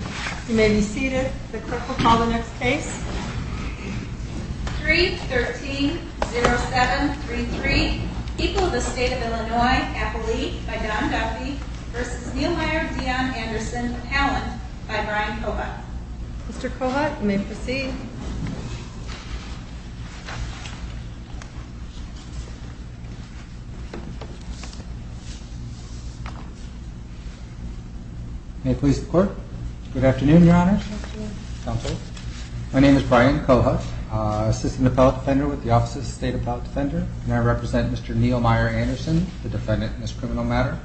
You may be seated. The court will call the next case. 3-13-07-33 People of the State of Illinois, Appali by Don Duffy v. Neumeier, Dion, Anderson, Halland by Brian Kovach Mr. Kovach, you may proceed. Brian Kovach, Assistant Appellate Defender May it please the court? Good afternoon, Your Honors. My name is Brian Kovach, Assistant Appellate Defender with the Office of the State Appellate Defender, and I represent Mr. Neumeier Anderson, the defendant in this criminal matter.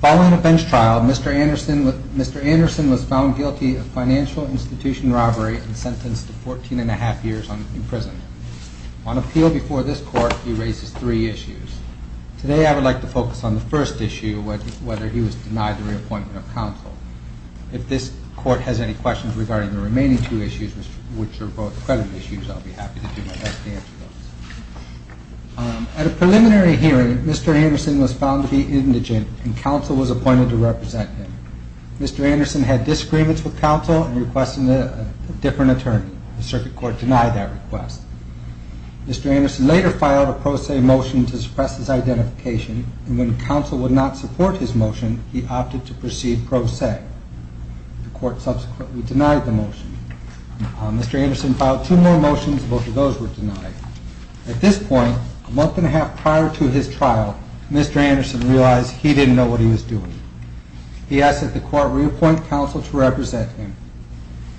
Following a bench trial, Mr. Anderson was found guilty of financial institution robbery and sentenced to 14 and a half years in prison. On appeal before this court, he raises three issues. Today I would like to focus on the first issue, whether he was denied the reappointment of counsel. If this court has any questions regarding the remaining two issues, which are both credit issues, I'll be happy to do my best to answer those. At a preliminary hearing, Mr. Anderson was found to be indigent, and counsel was appointed to represent him. Mr. Anderson had disagreements with counsel and requested a different attorney. The circuit court denied that request. Mr. Anderson later filed a pro se motion to suppress his identification, and when counsel would not support his motion, he opted to proceed pro se. The court subsequently denied the motion. Mr. Anderson filed two more motions, both of those were denied. At this point, a month and a half prior to his trial, Mr. Anderson realized he didn't know what he was doing. He asked that the court reappoint counsel to represent him,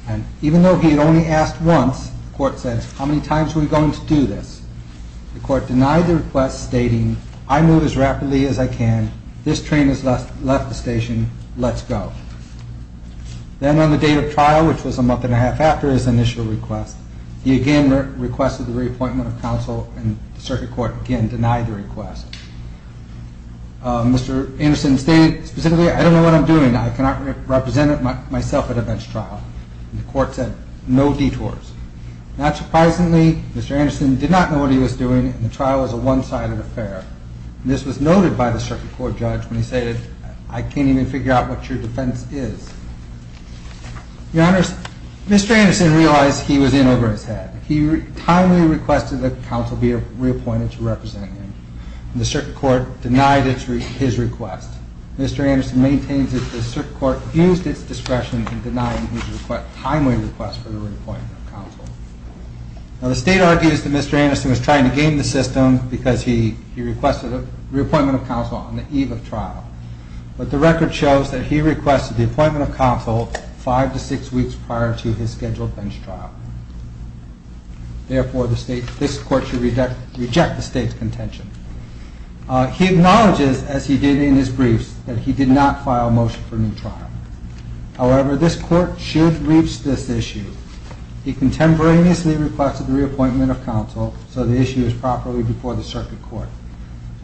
and even though he had only asked once, the court said, how many times are we going to do this? The court denied the request, stating, I move as rapidly as I can, this train has left the station, let's go. Then on the date of trial, which was a month and a half after his initial request, he again requested the reappointment of counsel, and the circuit court again denied the request. Mr. Anderson stated, specifically, I don't know what I'm doing, I cannot represent myself at a bench trial. The court said, no detours. Not surprisingly, Mr. Anderson did not know what he was doing, and the trial was a one-sided affair. This was noted by the circuit court judge when he stated, I can't even figure out what your defense is. Mr. Anderson realized he was in over his head. He timely requested that counsel be reappointed to represent him, and the circuit court denied his request. Mr. Anderson maintains that the circuit court used its discretion in denying his timely request for the reappointment of counsel. Now the state argues that Mr. Anderson was trying to game the system because he requested a reappointment of counsel on the eve of trial. But the record shows that he requested the appointment of counsel five to six weeks prior to his scheduled bench trial. Therefore, this court should reject the state's contention. He acknowledges, as he did in his briefs, that he did not file a motion for a new trial. However, this court should reach this issue. He contemporaneously requested the reappointment of counsel so the issue is properly before the circuit court.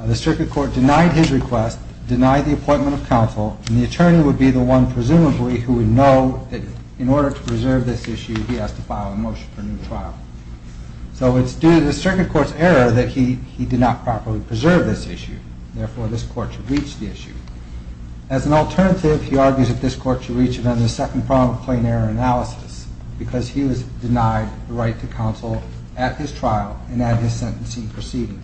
The circuit court denied his request, denied the appointment of counsel, and the attorney would be the one, presumably, who would know that in order to preserve this issue, he has to file a motion for a new trial. So it's due to the circuit court's error that he did not properly preserve this issue. Therefore, this court should reach the issue. As an alternative, he argues that this court should reach it under the second prong of plain error analysis because he was denied the right to counsel at his trial and at his sentencing proceeding.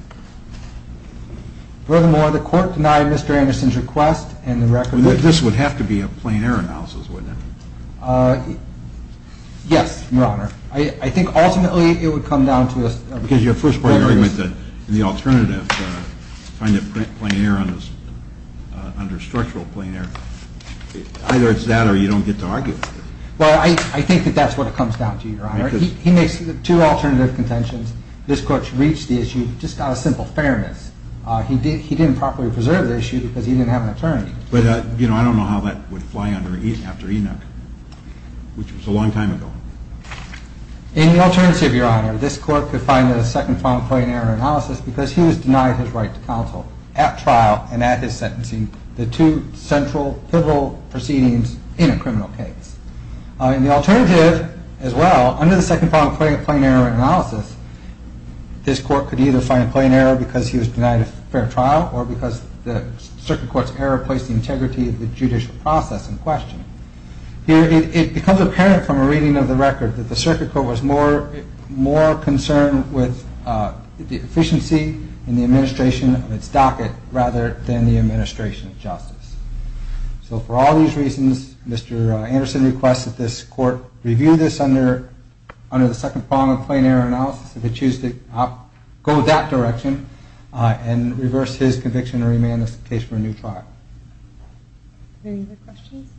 Furthermore, the court denied Mr. Anderson's request and the record... This would have to be a plain error analysis, wouldn't it? Yes, Your Honor. I think ultimately it would come down to a... Because your first point, your argument that the alternative, find it plain error under structural plain error, either it's that or you don't get to argue with it. Well, I think that that's what it comes down to, Your Honor. He makes two alternative contentions. This court should reach the issue just out of simple fairness. He didn't properly preserve the issue because he didn't have an attorney. But, you know, I don't know how that would fly after Enoch, which was a long time ago. In the alternative, Your Honor, this court could find it a second prong of plain error analysis because he was denied his right to counsel at trial and at his sentencing, the two central, pivotal proceedings in a criminal case. In the alternative as well, under the second prong of plain error analysis, this court could either find it plain error because he was denied a fair trial or because the circuit court's error placed the integrity of the judicial process in question. Here it becomes apparent from a reading of the record that the circuit court was more concerned with the efficiency and the administration of its docket rather than the administration of justice. So for all these reasons, Mr. Anderson requests that this court review this under the second prong of plain error analysis. If it chooses to go that direction and reverse his conviction or remand this case for a new trial. Any other questions?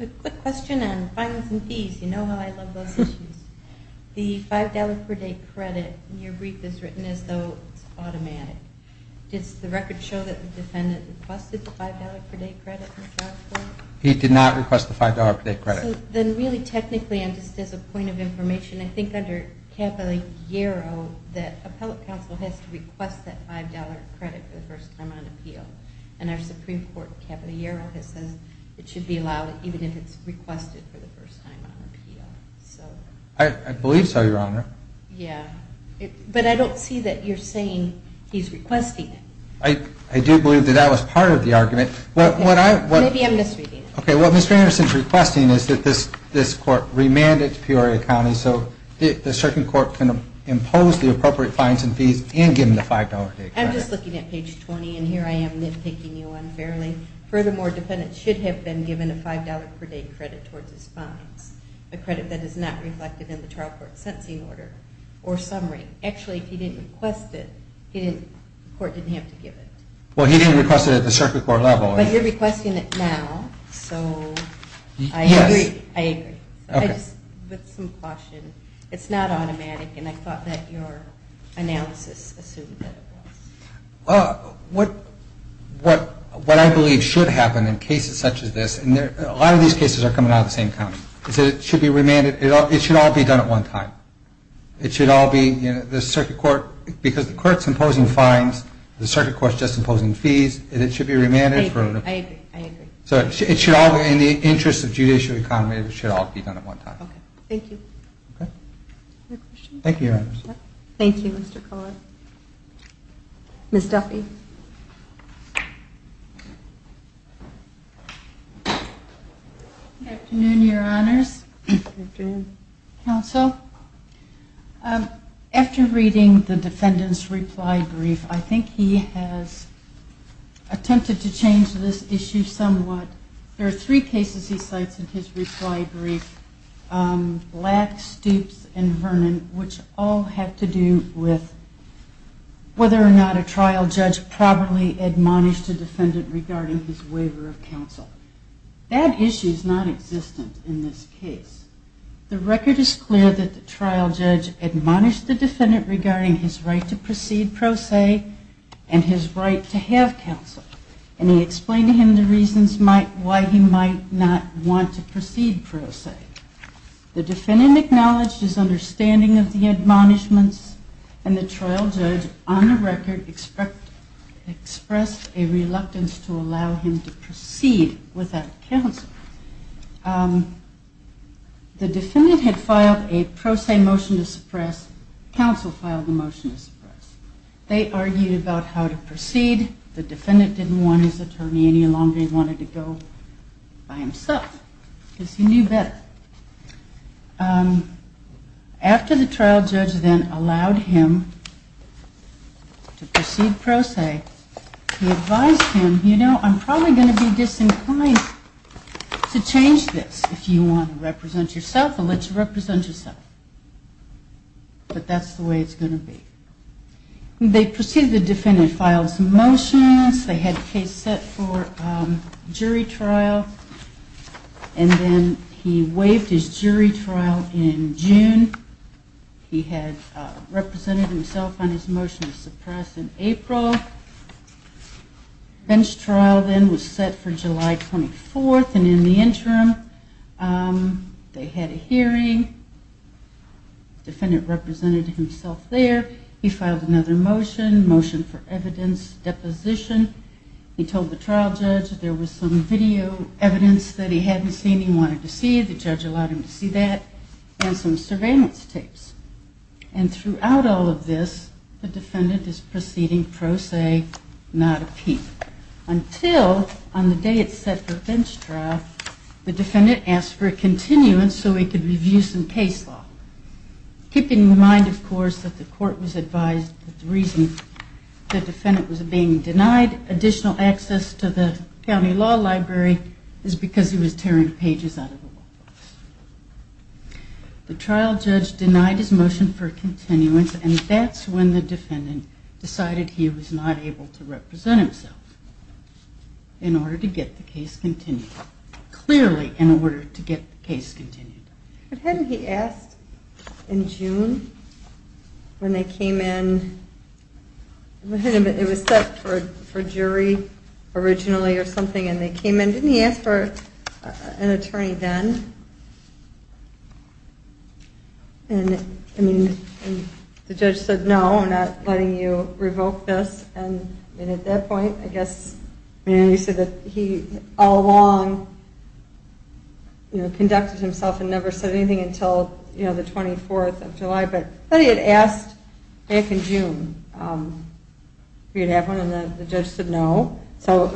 A quick question on fines and fees. You know how I love those issues. The $5 per day credit in your brief is written as though it's automatic. Does the record show that the defendant requested the $5 per day credit in the trial court? He did not request the $5 per day credit. So then really technically, and just as a point of information, I think under capital Eero that appellate counsel has to request that $5 credit for the first time on appeal. And our Supreme Court capital Eero says it should be allowed even if it's requested for the first time on appeal. I believe so, Your Honor. Yeah. But I don't see that you're saying he's requesting it. I do believe that that was part of the argument. Maybe I'm misreading it. Okay. What Mr. Anderson is requesting is that this court remand it to Peoria County so the circuit court can impose the appropriate fines and fees and give him the $5 per day credit. I'm just looking at page 20, and here I am nitpicking you unfairly. Furthermore, defendants should have been given a $5 per day credit towards his fines, a credit that is not reflected in the trial court sentencing order or summary. Actually, if he didn't request it, the court didn't have to give it. Well, he didn't request it at the circuit court level. But you're requesting it now, so I agree. I agree. Okay. With some caution. It's not automatic, and I thought that your analysis assumed that it was. Well, what I believe should happen in cases such as this, and a lot of these cases are coming out of the same county, is that it should be remanded. It should all be done at one time. It should all be, you know, the circuit court, because the court's imposing fines, the circuit court's just imposing fees, and it should be remanded. I agree. I agree. So it should all, in the interest of judicial economy, it should all be done at one time. Okay. Thank you. Okay. Other questions? Thank you, Your Honors. Thank you, Mr. Collard. Ms. Duffy. Good afternoon, Your Honors. Good afternoon. Counsel, after reading the defendant's reply brief, I think he has attempted to change this issue somewhat. There are three cases he cites in his reply brief, Black, Stoops, and Vernon, which all have to do with whether or not a trial judge properly admonished a defendant regarding his waiver of counsel. That issue is nonexistent in this case. The record is clear that the trial judge admonished the defendant regarding his right to proceed pro se and his right to have counsel, and he explained to him the reasons why he might not want to proceed pro se. The defendant acknowledged his understanding of the admonishments, and the trial judge, on the record, expressed a reluctance to allow him to proceed without counsel. The defendant had filed a pro se motion to suppress. Counsel filed a motion to suppress. They argued about how to proceed. The defendant didn't want his attorney any longer. He wanted to go by himself because he knew better. After the trial judge then allowed him to proceed pro se, he advised him, you know, I'm probably going to be disinclined to change this if you want to represent yourself, I'll let you represent yourself. But that's the way it's going to be. They proceeded the defendant filed some motions. They had a case set for jury trial. And then he waived his jury trial in June. He had represented himself on his motion to suppress in April. Bench trial then was set for July 24th. And in the interim, they had a hearing. The defendant represented himself there. He filed another motion, motion for evidence deposition. He told the trial judge there was some video evidence that he hadn't seen he wanted to see. The judge allowed him to see that and some surveillance tapes. And throughout all of this, the defendant is proceeding pro se, not a peep. Until on the day it's set for bench trial, the defendant asked for a continuance so he could review some case law, keeping in mind, of course, that the court was advised that the reason the defendant was being denied additional access to the county law library is because he was tearing pages out of a book. The trial judge denied his motion for continuance, and that's when the defendant decided he was not able to represent himself in order to get the case continued, clearly in order to get the case continued. But hadn't he asked in June when they came in? It was set for jury originally or something, and they came in. Didn't he ask for an attorney then? And the judge said, no, I'm not letting you revoke this. And at that point, I guess he said that he all along conducted himself and never said anything until the 24th of July. But he had asked back in June if he would have one, and the judge said no. So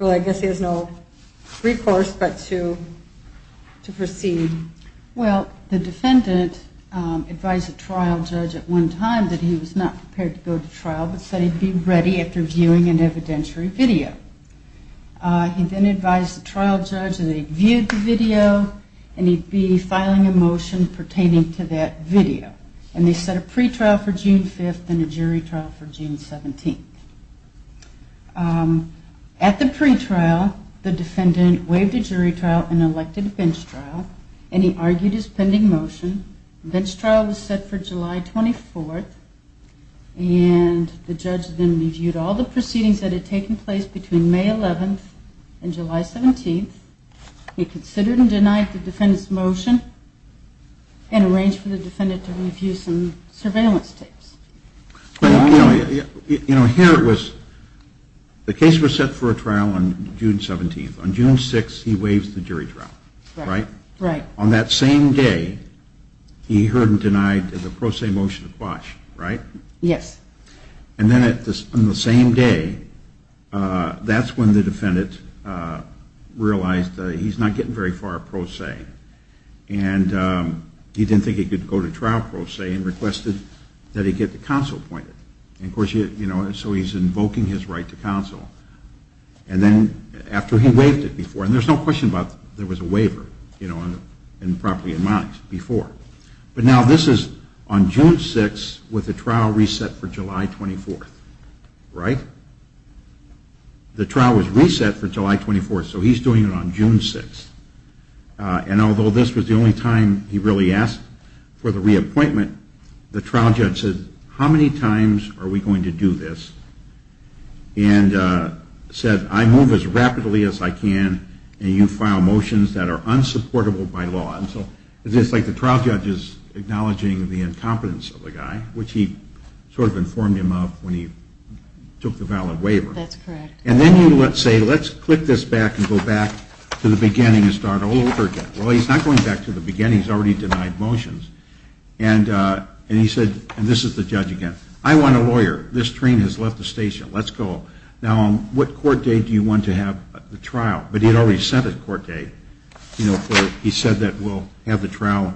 I guess he has no recourse but to proceed. Well, the defendant advised the trial judge at one time that he was not prepared to go to trial, but said he'd be ready after viewing an evidentiary video. He then advised the trial judge that he'd viewed the video and he'd be filing a motion pertaining to that video. And they set a pretrial for June 5th and a jury trial for June 17th. At the pretrial, the defendant waived a jury trial and elected a bench trial, and he argued his pending motion. The bench trial was set for July 24th, and the judge then reviewed all the proceedings that had taken place between May 11th and July 17th. He considered and denied the defendant's motion and arranged for the defendant to review some surveillance tapes. You know, here it was the case was set for a trial on June 17th. On June 6th, he waives the jury trial, right? Right. On that same day, he heard and denied the pro se motion to Quash, right? Yes. And then on the same day, that's when the defendant realized that he's not getting very far pro se, and he didn't think he could go to trial pro se and requested that he get the counsel appointed. And, of course, you know, so he's invoking his right to counsel. And then after he waived it before, and there's no question about there was a waiver, you know, and properly in mind before. But now this is on June 6th with the trial reset for July 24th, right? The trial was reset for July 24th, so he's doing it on June 6th. And although this was the only time he really asked for the reappointment, the trial judge said, how many times are we going to do this? And said, I move as rapidly as I can, and you file motions that are unsupportable by law. And so it's like the trial judge is acknowledging the incompetence of the guy, which he sort of informed him of when he took the valid waiver. That's correct. And then you would say, let's click this back and go back to the beginning and start all over again. Well, he's not going back to the beginning. He's already denied motions. And he said, and this is the judge again, I want a lawyer. This train has left the station. Let's go. Now, what court date do you want to have the trial? But he had already set a court date, you know, have the trial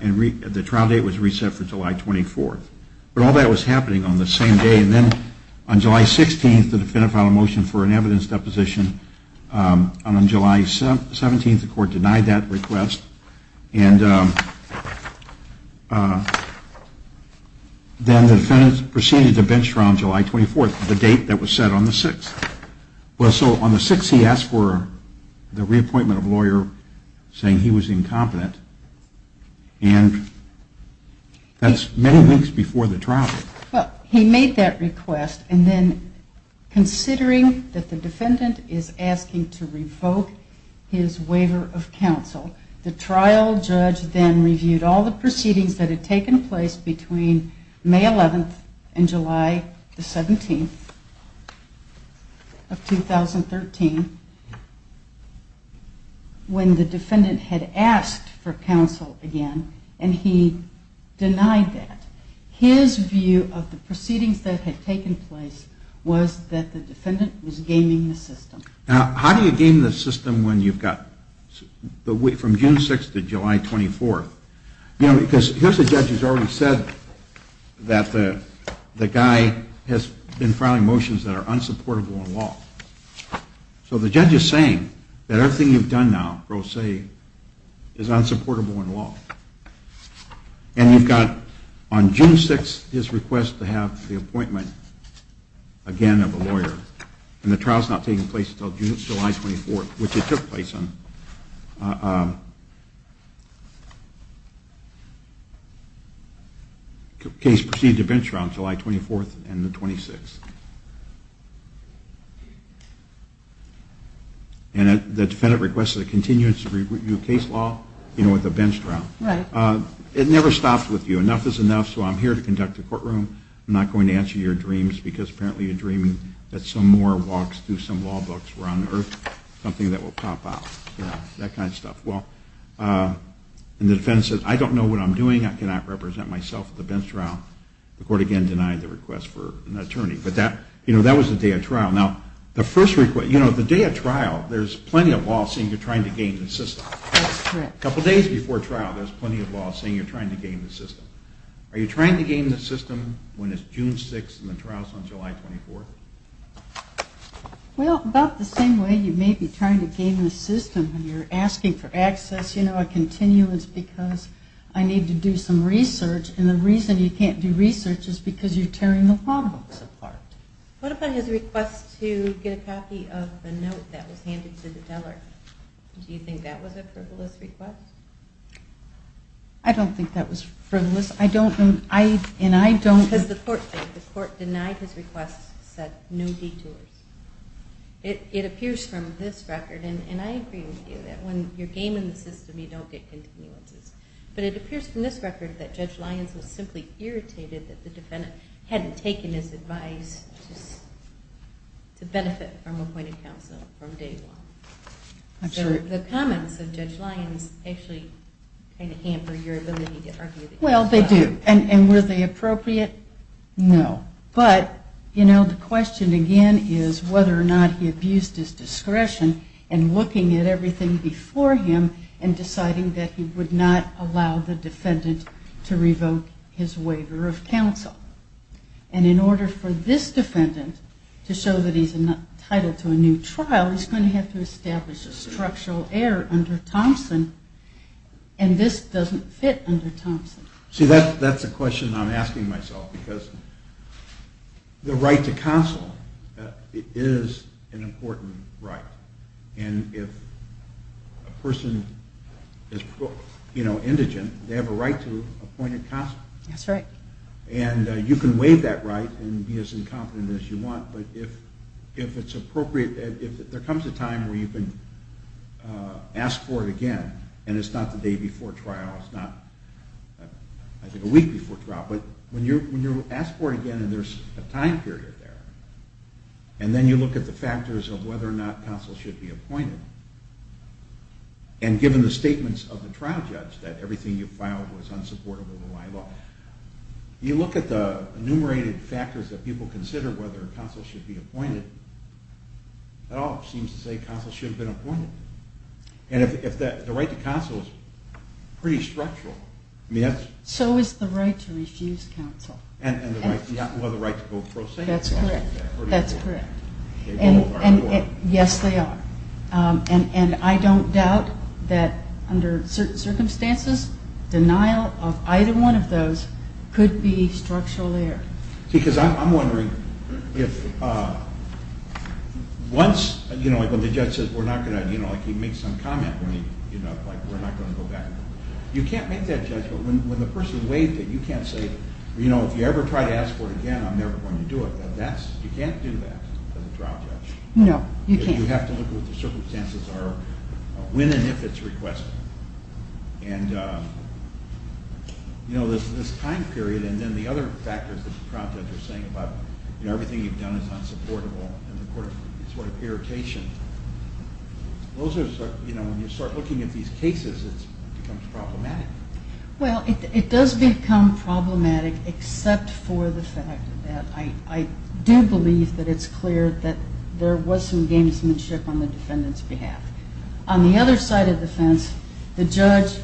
and the trial date was reset for July 24th. But all that was happening on the same day. And then on July 16th, the defendant filed a motion for an evidence deposition. And on July 17th, the court denied that request. And then the defendant proceeded to bench trial on July 24th, the date that was set on the 6th. Well, so on the 6th, he asked for the reappointment of a lawyer saying he was incompetent. And that's many weeks before the trial. Well, he made that request. And then considering that the defendant is asking to revoke his waiver of counsel, the trial judge then reviewed all the proceedings that had taken place between May 11th and July 17th of 2013 when the defendant had asked for counsel again. And he denied that. His view of the proceedings that had taken place was that the defendant was gaming the system. Now, how do you game the system when you've got from June 6th to July 24th? Here's a judge who's already said that the guy has been filing motions that are unsupportable in law. So the judge is saying that everything you've done now, pro se, is unsupportable in law. And you've got on June 6th his request to have the appointment again of a lawyer. And the trial's not taking place until July 24th, which it took place on. The case proceeded to bench trial on July 24th and the 26th. And the defendant requested a continued review of case law with a bench trial. It never stops with you. Enough is enough, so I'm here to conduct a courtroom. I'm not going to answer your dreams because apparently you're dreaming that some more walks through some law books were on earth, something that will pop out, that kind of stuff. Well, and the defendant says, I don't know what I'm doing. I cannot represent myself at the bench trial. The court again denied the request for an attorney. But that was the day of trial. Now, the day of trial, there's plenty of law saying you're trying to game the system. That's correct. A couple days before trial, there's plenty of law saying you're trying to game the system. Are you trying to game the system when it's June 6th and the trial's on July 24th? Well, about the same way you may be trying to game the system when you're asking for access, you know, a continuance because I need to do some research, and the reason you can't do research is because you're tearing the law books apart. What about his request to get a copy of the note that was handed to the teller? Do you think that was a frivolous request? I don't think that was frivolous. Because the court denied his request, said no detours. It appears from this record, and I agree with you, that when you're gaming the system, you don't get continuances. But it appears from this record that Judge Lyons was simply irritated that the defendant hadn't taken his advice to benefit from appointed counsel from day one. The comments of Judge Lyons actually kind of hamper your ability to argue the case. Well, they do. And were they appropriate? No. But, you know, the question again is whether or not he abused his discretion in looking at everything before him and deciding that he would not allow the defendant to revoke his waiver of counsel. And in order for this defendant to show that he's entitled to a new trial, he's going to have to establish a structural error under Thompson, and this doesn't fit under Thompson. See, that's a question I'm asking myself, because the right to counsel is an important right. And if a person is indigent, they have a right to appointed counsel. That's right. And you can waive that right and be as incompetent as you want, but if there comes a time where you can ask for it again, and it's not the day before trial, it's not, I think, a week before trial, but when you ask for it again and there's a time period there, and then you look at the factors of whether or not counsel should be appointed, and given the statements of the trial judge that everything you filed was unsupportable to my law, you look at the enumerated factors that people consider whether counsel should be appointed, it all seems to say counsel should have been appointed. And the right to counsel is pretty structural. So is the right to refuse counsel. And the right to go pro se. That's correct. Yes, they are. And I don't doubt that under certain circumstances, denial of either one of those could be structural there. Because I'm wondering if once, you know, like when the judge says we're not going to, you know, like he makes some comment when he, you know, like we're not going to go back. You can't make that judgment when the person waived it. You can't say, you know, if you ever try to ask for it again, I'm never going to do it. You can't do that for the trial judge. No, you can't. You have to look at what the circumstances are when and if it's requested. And, you know, this time period and then the other factors that the trial judge is saying about, you know, everything you've done is unsupportable and the court is sort of irritation. Those are, you know, when you start looking at these cases, it becomes problematic. Well, it does become problematic except for the fact that I do believe that it's clear that there was some gamesmanship on the defendant's behalf. On the other side of the fence, the judge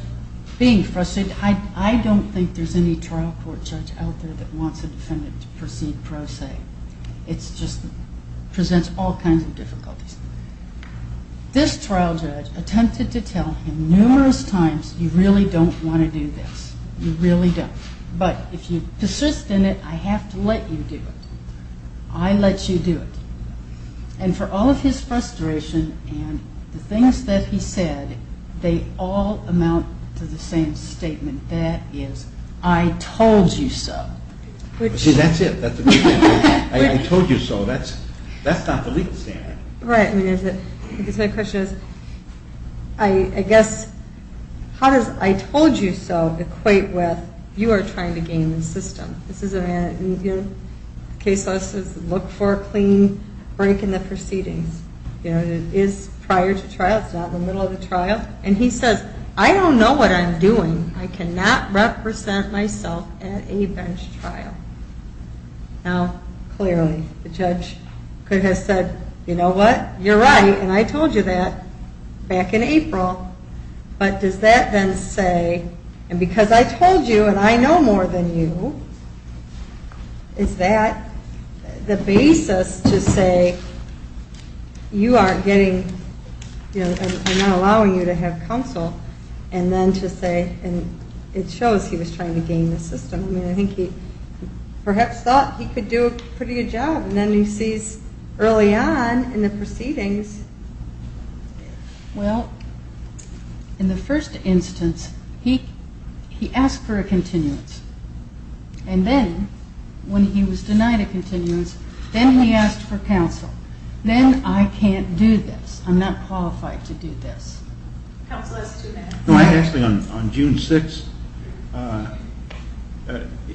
being frustrated, I don't think there's any trial court judge out there that wants a defendant to proceed pro se. It just presents all kinds of difficulties. This trial judge attempted to tell him numerous times you really don't want to do this. You really don't. But if you persist in it, I have to let you do it. I let you do it. And for all of his frustration and the things that he said, they all amount to the same statement. That is, I told you so. See, that's it. I told you so. That's not the legal standard. Right. My question is, I guess, how does I told you so equate with you are trying to game the system? This is a man, case law says look for a clean break in the proceedings. It is prior to trial. It's not the middle of the trial. And he says, I don't know what I'm doing. I cannot represent myself at a bench trial. Now, clearly, the judge could have said, you know what, you're right, and I told you that back in April. But does that then say, and because I told you and I know more than you, is that the basis to say you aren't getting, I'm not allowing you to have counsel, and then to say, and it shows he was trying to game the system. I mean, I think he perhaps thought he could do a pretty good job. And then he sees early on in the proceedings. Well, in the first instance, he asked for a continuance. And then when he was denied a continuance, then he asked for counsel. Then I can't do this. I'm not qualified to do this. Counsel has two minutes. No, actually, on June 6th,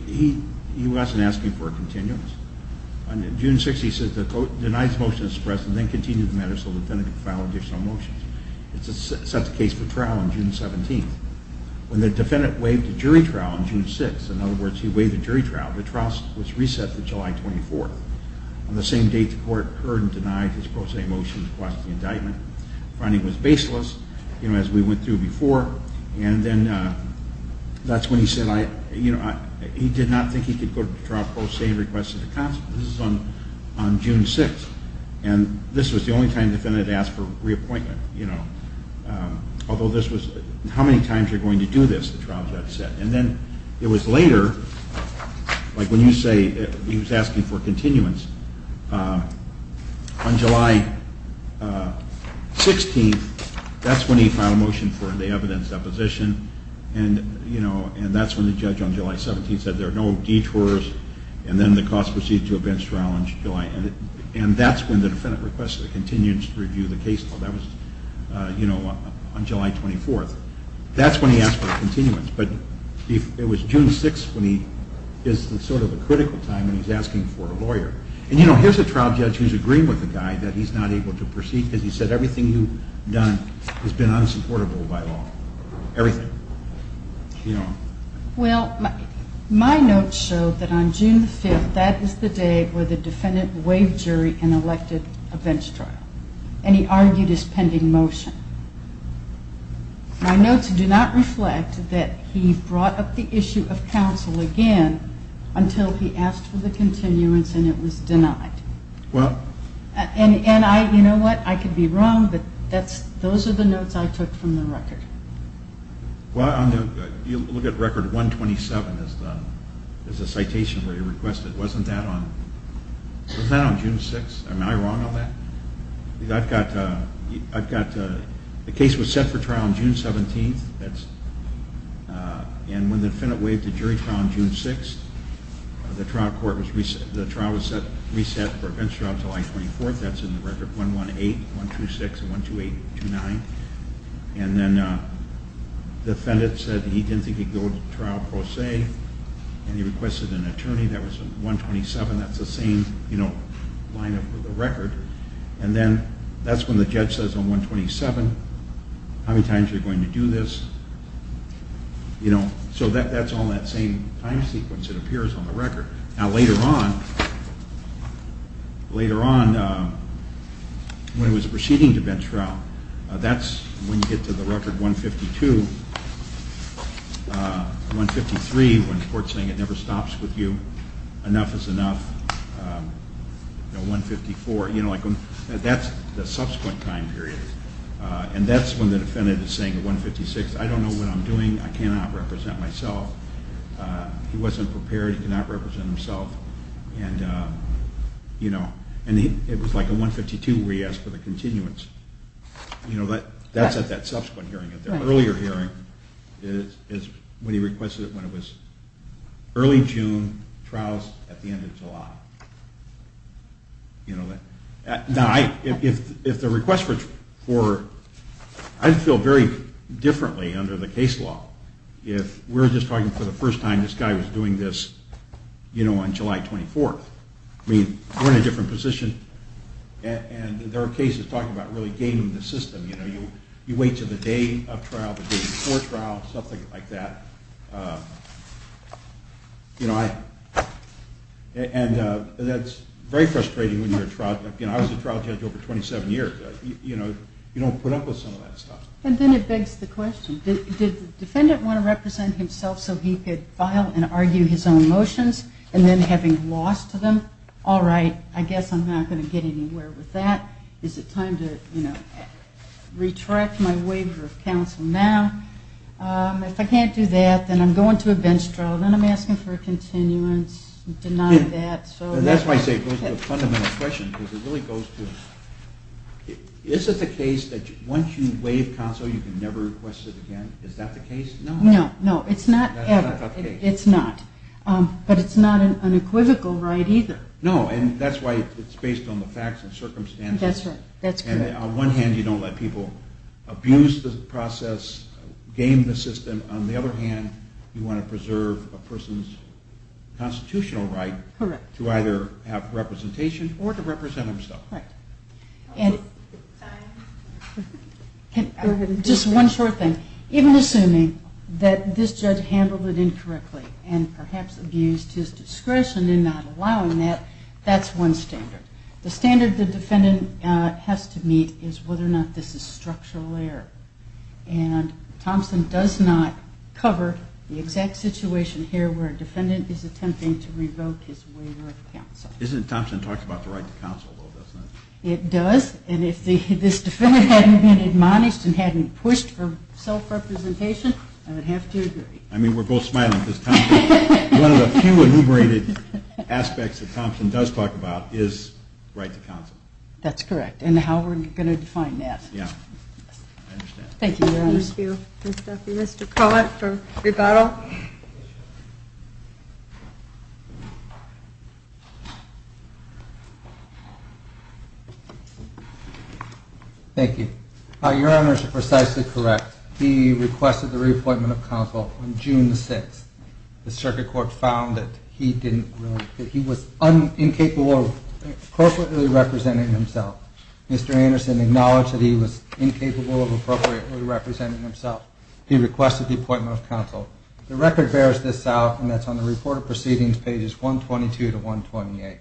he wasn't asking for a continuance. On June 6th, he says the court denies motion to suppress and then continues the matter so the defendant can file additional motions. It's set the case for trial on June 17th. When the defendant waived the jury trial on June 6th, in other words, he waived the jury trial, the trial was reset to July 24th. On the same date, the court heard and denied his pro se motion to request the indictment. The finding was baseless, you know, as we went through before. And then that's when he said, you know, he did not think he could go to the trial pro se and request a counsel. This is on June 6th. And this was the only time the defendant had asked for reappointment, you know. Although this was, how many times are you going to do this, the trial judge said. And then it was later, like when you say he was asking for continuance, on July 16th, that's when he filed a motion for the evidence deposition. And, you know, and that's when the judge on July 17th said there are no detours. And then the cause proceeded to a bench trial on July. And that's when the defendant requested a continuance to review the case. Well, that was, you know, on July 24th. That's when he asked for a continuance. But it was June 6th when he is in sort of a critical time and he's asking for a lawyer. And, you know, here's a trial judge who's agreeing with the guy that he's not able to proceed because he said everything you've done has been unsupportable by law. Everything. Well, my notes show that on June 5th, that is the day where the defendant waived jury and elected a bench trial. And he argued his pending motion. My notes do not reflect that he brought up the issue of counsel again until he asked for the continuance and it was denied. And, you know what, I could be wrong, but those are the notes I took from the record. Well, you look at Record 127 as a citation where he requested. Wasn't that on June 6th? Am I wrong on that? I've got the case was set for trial on June 17th, and when the defendant waived the jury trial on June 6th, the trial was reset for a bench trial until July 24th. That's in the record 118-126 and 128-29. And then the defendant said he didn't think he'd go to trial pro se and he requested an attorney. That was in 127. That's the same, you know, line of the record. And then that's when the judge says on 127, how many times are you going to do this? You know, so that's all that same time sequence that appears on the record. Now, later on, when he was proceeding to bench trial, that's when you get to the Record 152, 153, when the court's saying it never stops with you, enough is enough, 154, you know, like that's the subsequent time period. And that's when the defendant is saying at 156, I don't know what I'm doing. I cannot represent myself. He wasn't prepared. He cannot represent himself. And, you know, it was like a 152 where he asked for the continuance. You know, that's at that subsequent hearing. At the earlier hearing is when he requested it when it was early June, trials at the end of July. You know, now, if the request was for, I'd feel very differently under the case law if we're just talking for the first time this guy was doing this, you know, on July 24th. I mean, we're in a different position. And there are cases talking about really gaining the system. You know, you wait to the day of trial, the day before trial, something like that. You know, and that's very frustrating when you're a trial judge. You know, I was a trial judge over 27 years. You know, you don't put up with some of that stuff. And then it begs the question. Did the defendant want to represent himself so he could file and argue his own motions and then having lost to them, all right, I guess I'm not going to get anywhere with that. Is it time to, you know, retract my waiver of counsel now? If I can't do that, then I'm going to a bench trial. Then I'm asking for a continuance. Deny that. And that's why I say it goes to the fundamental question because it really goes to, is it the case that once you waive counsel you can never request it again? Is that the case? No. No, no, it's not ever. It's not. But it's not an equivocal right either. No, and that's why it's based on the facts and circumstances. That's right. And on one hand you don't let people abuse the process, game the system. On the other hand, you want to preserve a person's constitutional right to either have representation or to represent himself. Right. And just one short thing. Even assuming that this judge handled it incorrectly and perhaps abused his discretion in not allowing that, that's one standard. The standard the defendant has to meet is whether or not this is structural error. And Thompson does not cover the exact situation here where a defendant is attempting to revoke his waiver of counsel. Isn't it Thompson talks about the right to counsel, though, doesn't he? It does. And if this defendant hadn't been admonished and hadn't pushed for self-representation, I would have to agree. I mean, we're both smiling because Thompson, one of the few enumerated aspects that Thompson does talk about is right to counsel. That's correct. And how we're going to define that. Yeah. I understand. Thank you, Your Honors. Thank you, Mr. Cullet for rebuttal. Thank you. Your Honors are precisely correct. He requested the reappointment of counsel on June the 6th. The circuit court found that he was incapable of appropriately representing himself. Mr. Anderson acknowledged that he was incapable of appropriately representing himself. He requested the appointment of counsel. The record bears this out, and that's on the report of proceedings, pages 122 to 128.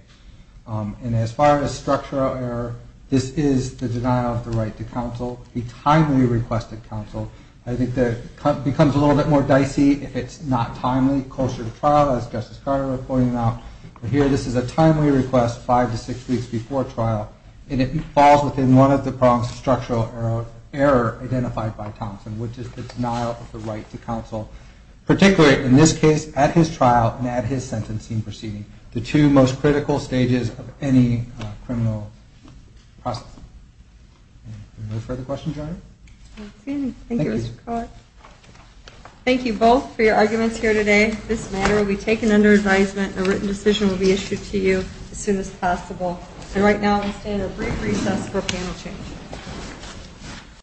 And as far as structural error, this is the denial of the right to counsel. He timely requested counsel. I think that it becomes a little bit more dicey if it's not timely, closer to trial, as Justice Carter was pointing out. But here, this is a timely request five to six weeks before trial, and it falls within one of the prongs of structural error identified by Thompson, which is the denial of the right to counsel, particularly in this case, at his trial and at his sentencing proceeding, the two most critical stages of any criminal process. Any further questions, Your Honor? Thank you, Mr. Cullet. Thank you both for your arguments here today. This matter will be taken under advisement, and a written decision will be issued to you as soon as possible. And right now, we stand at brief recess for panel change.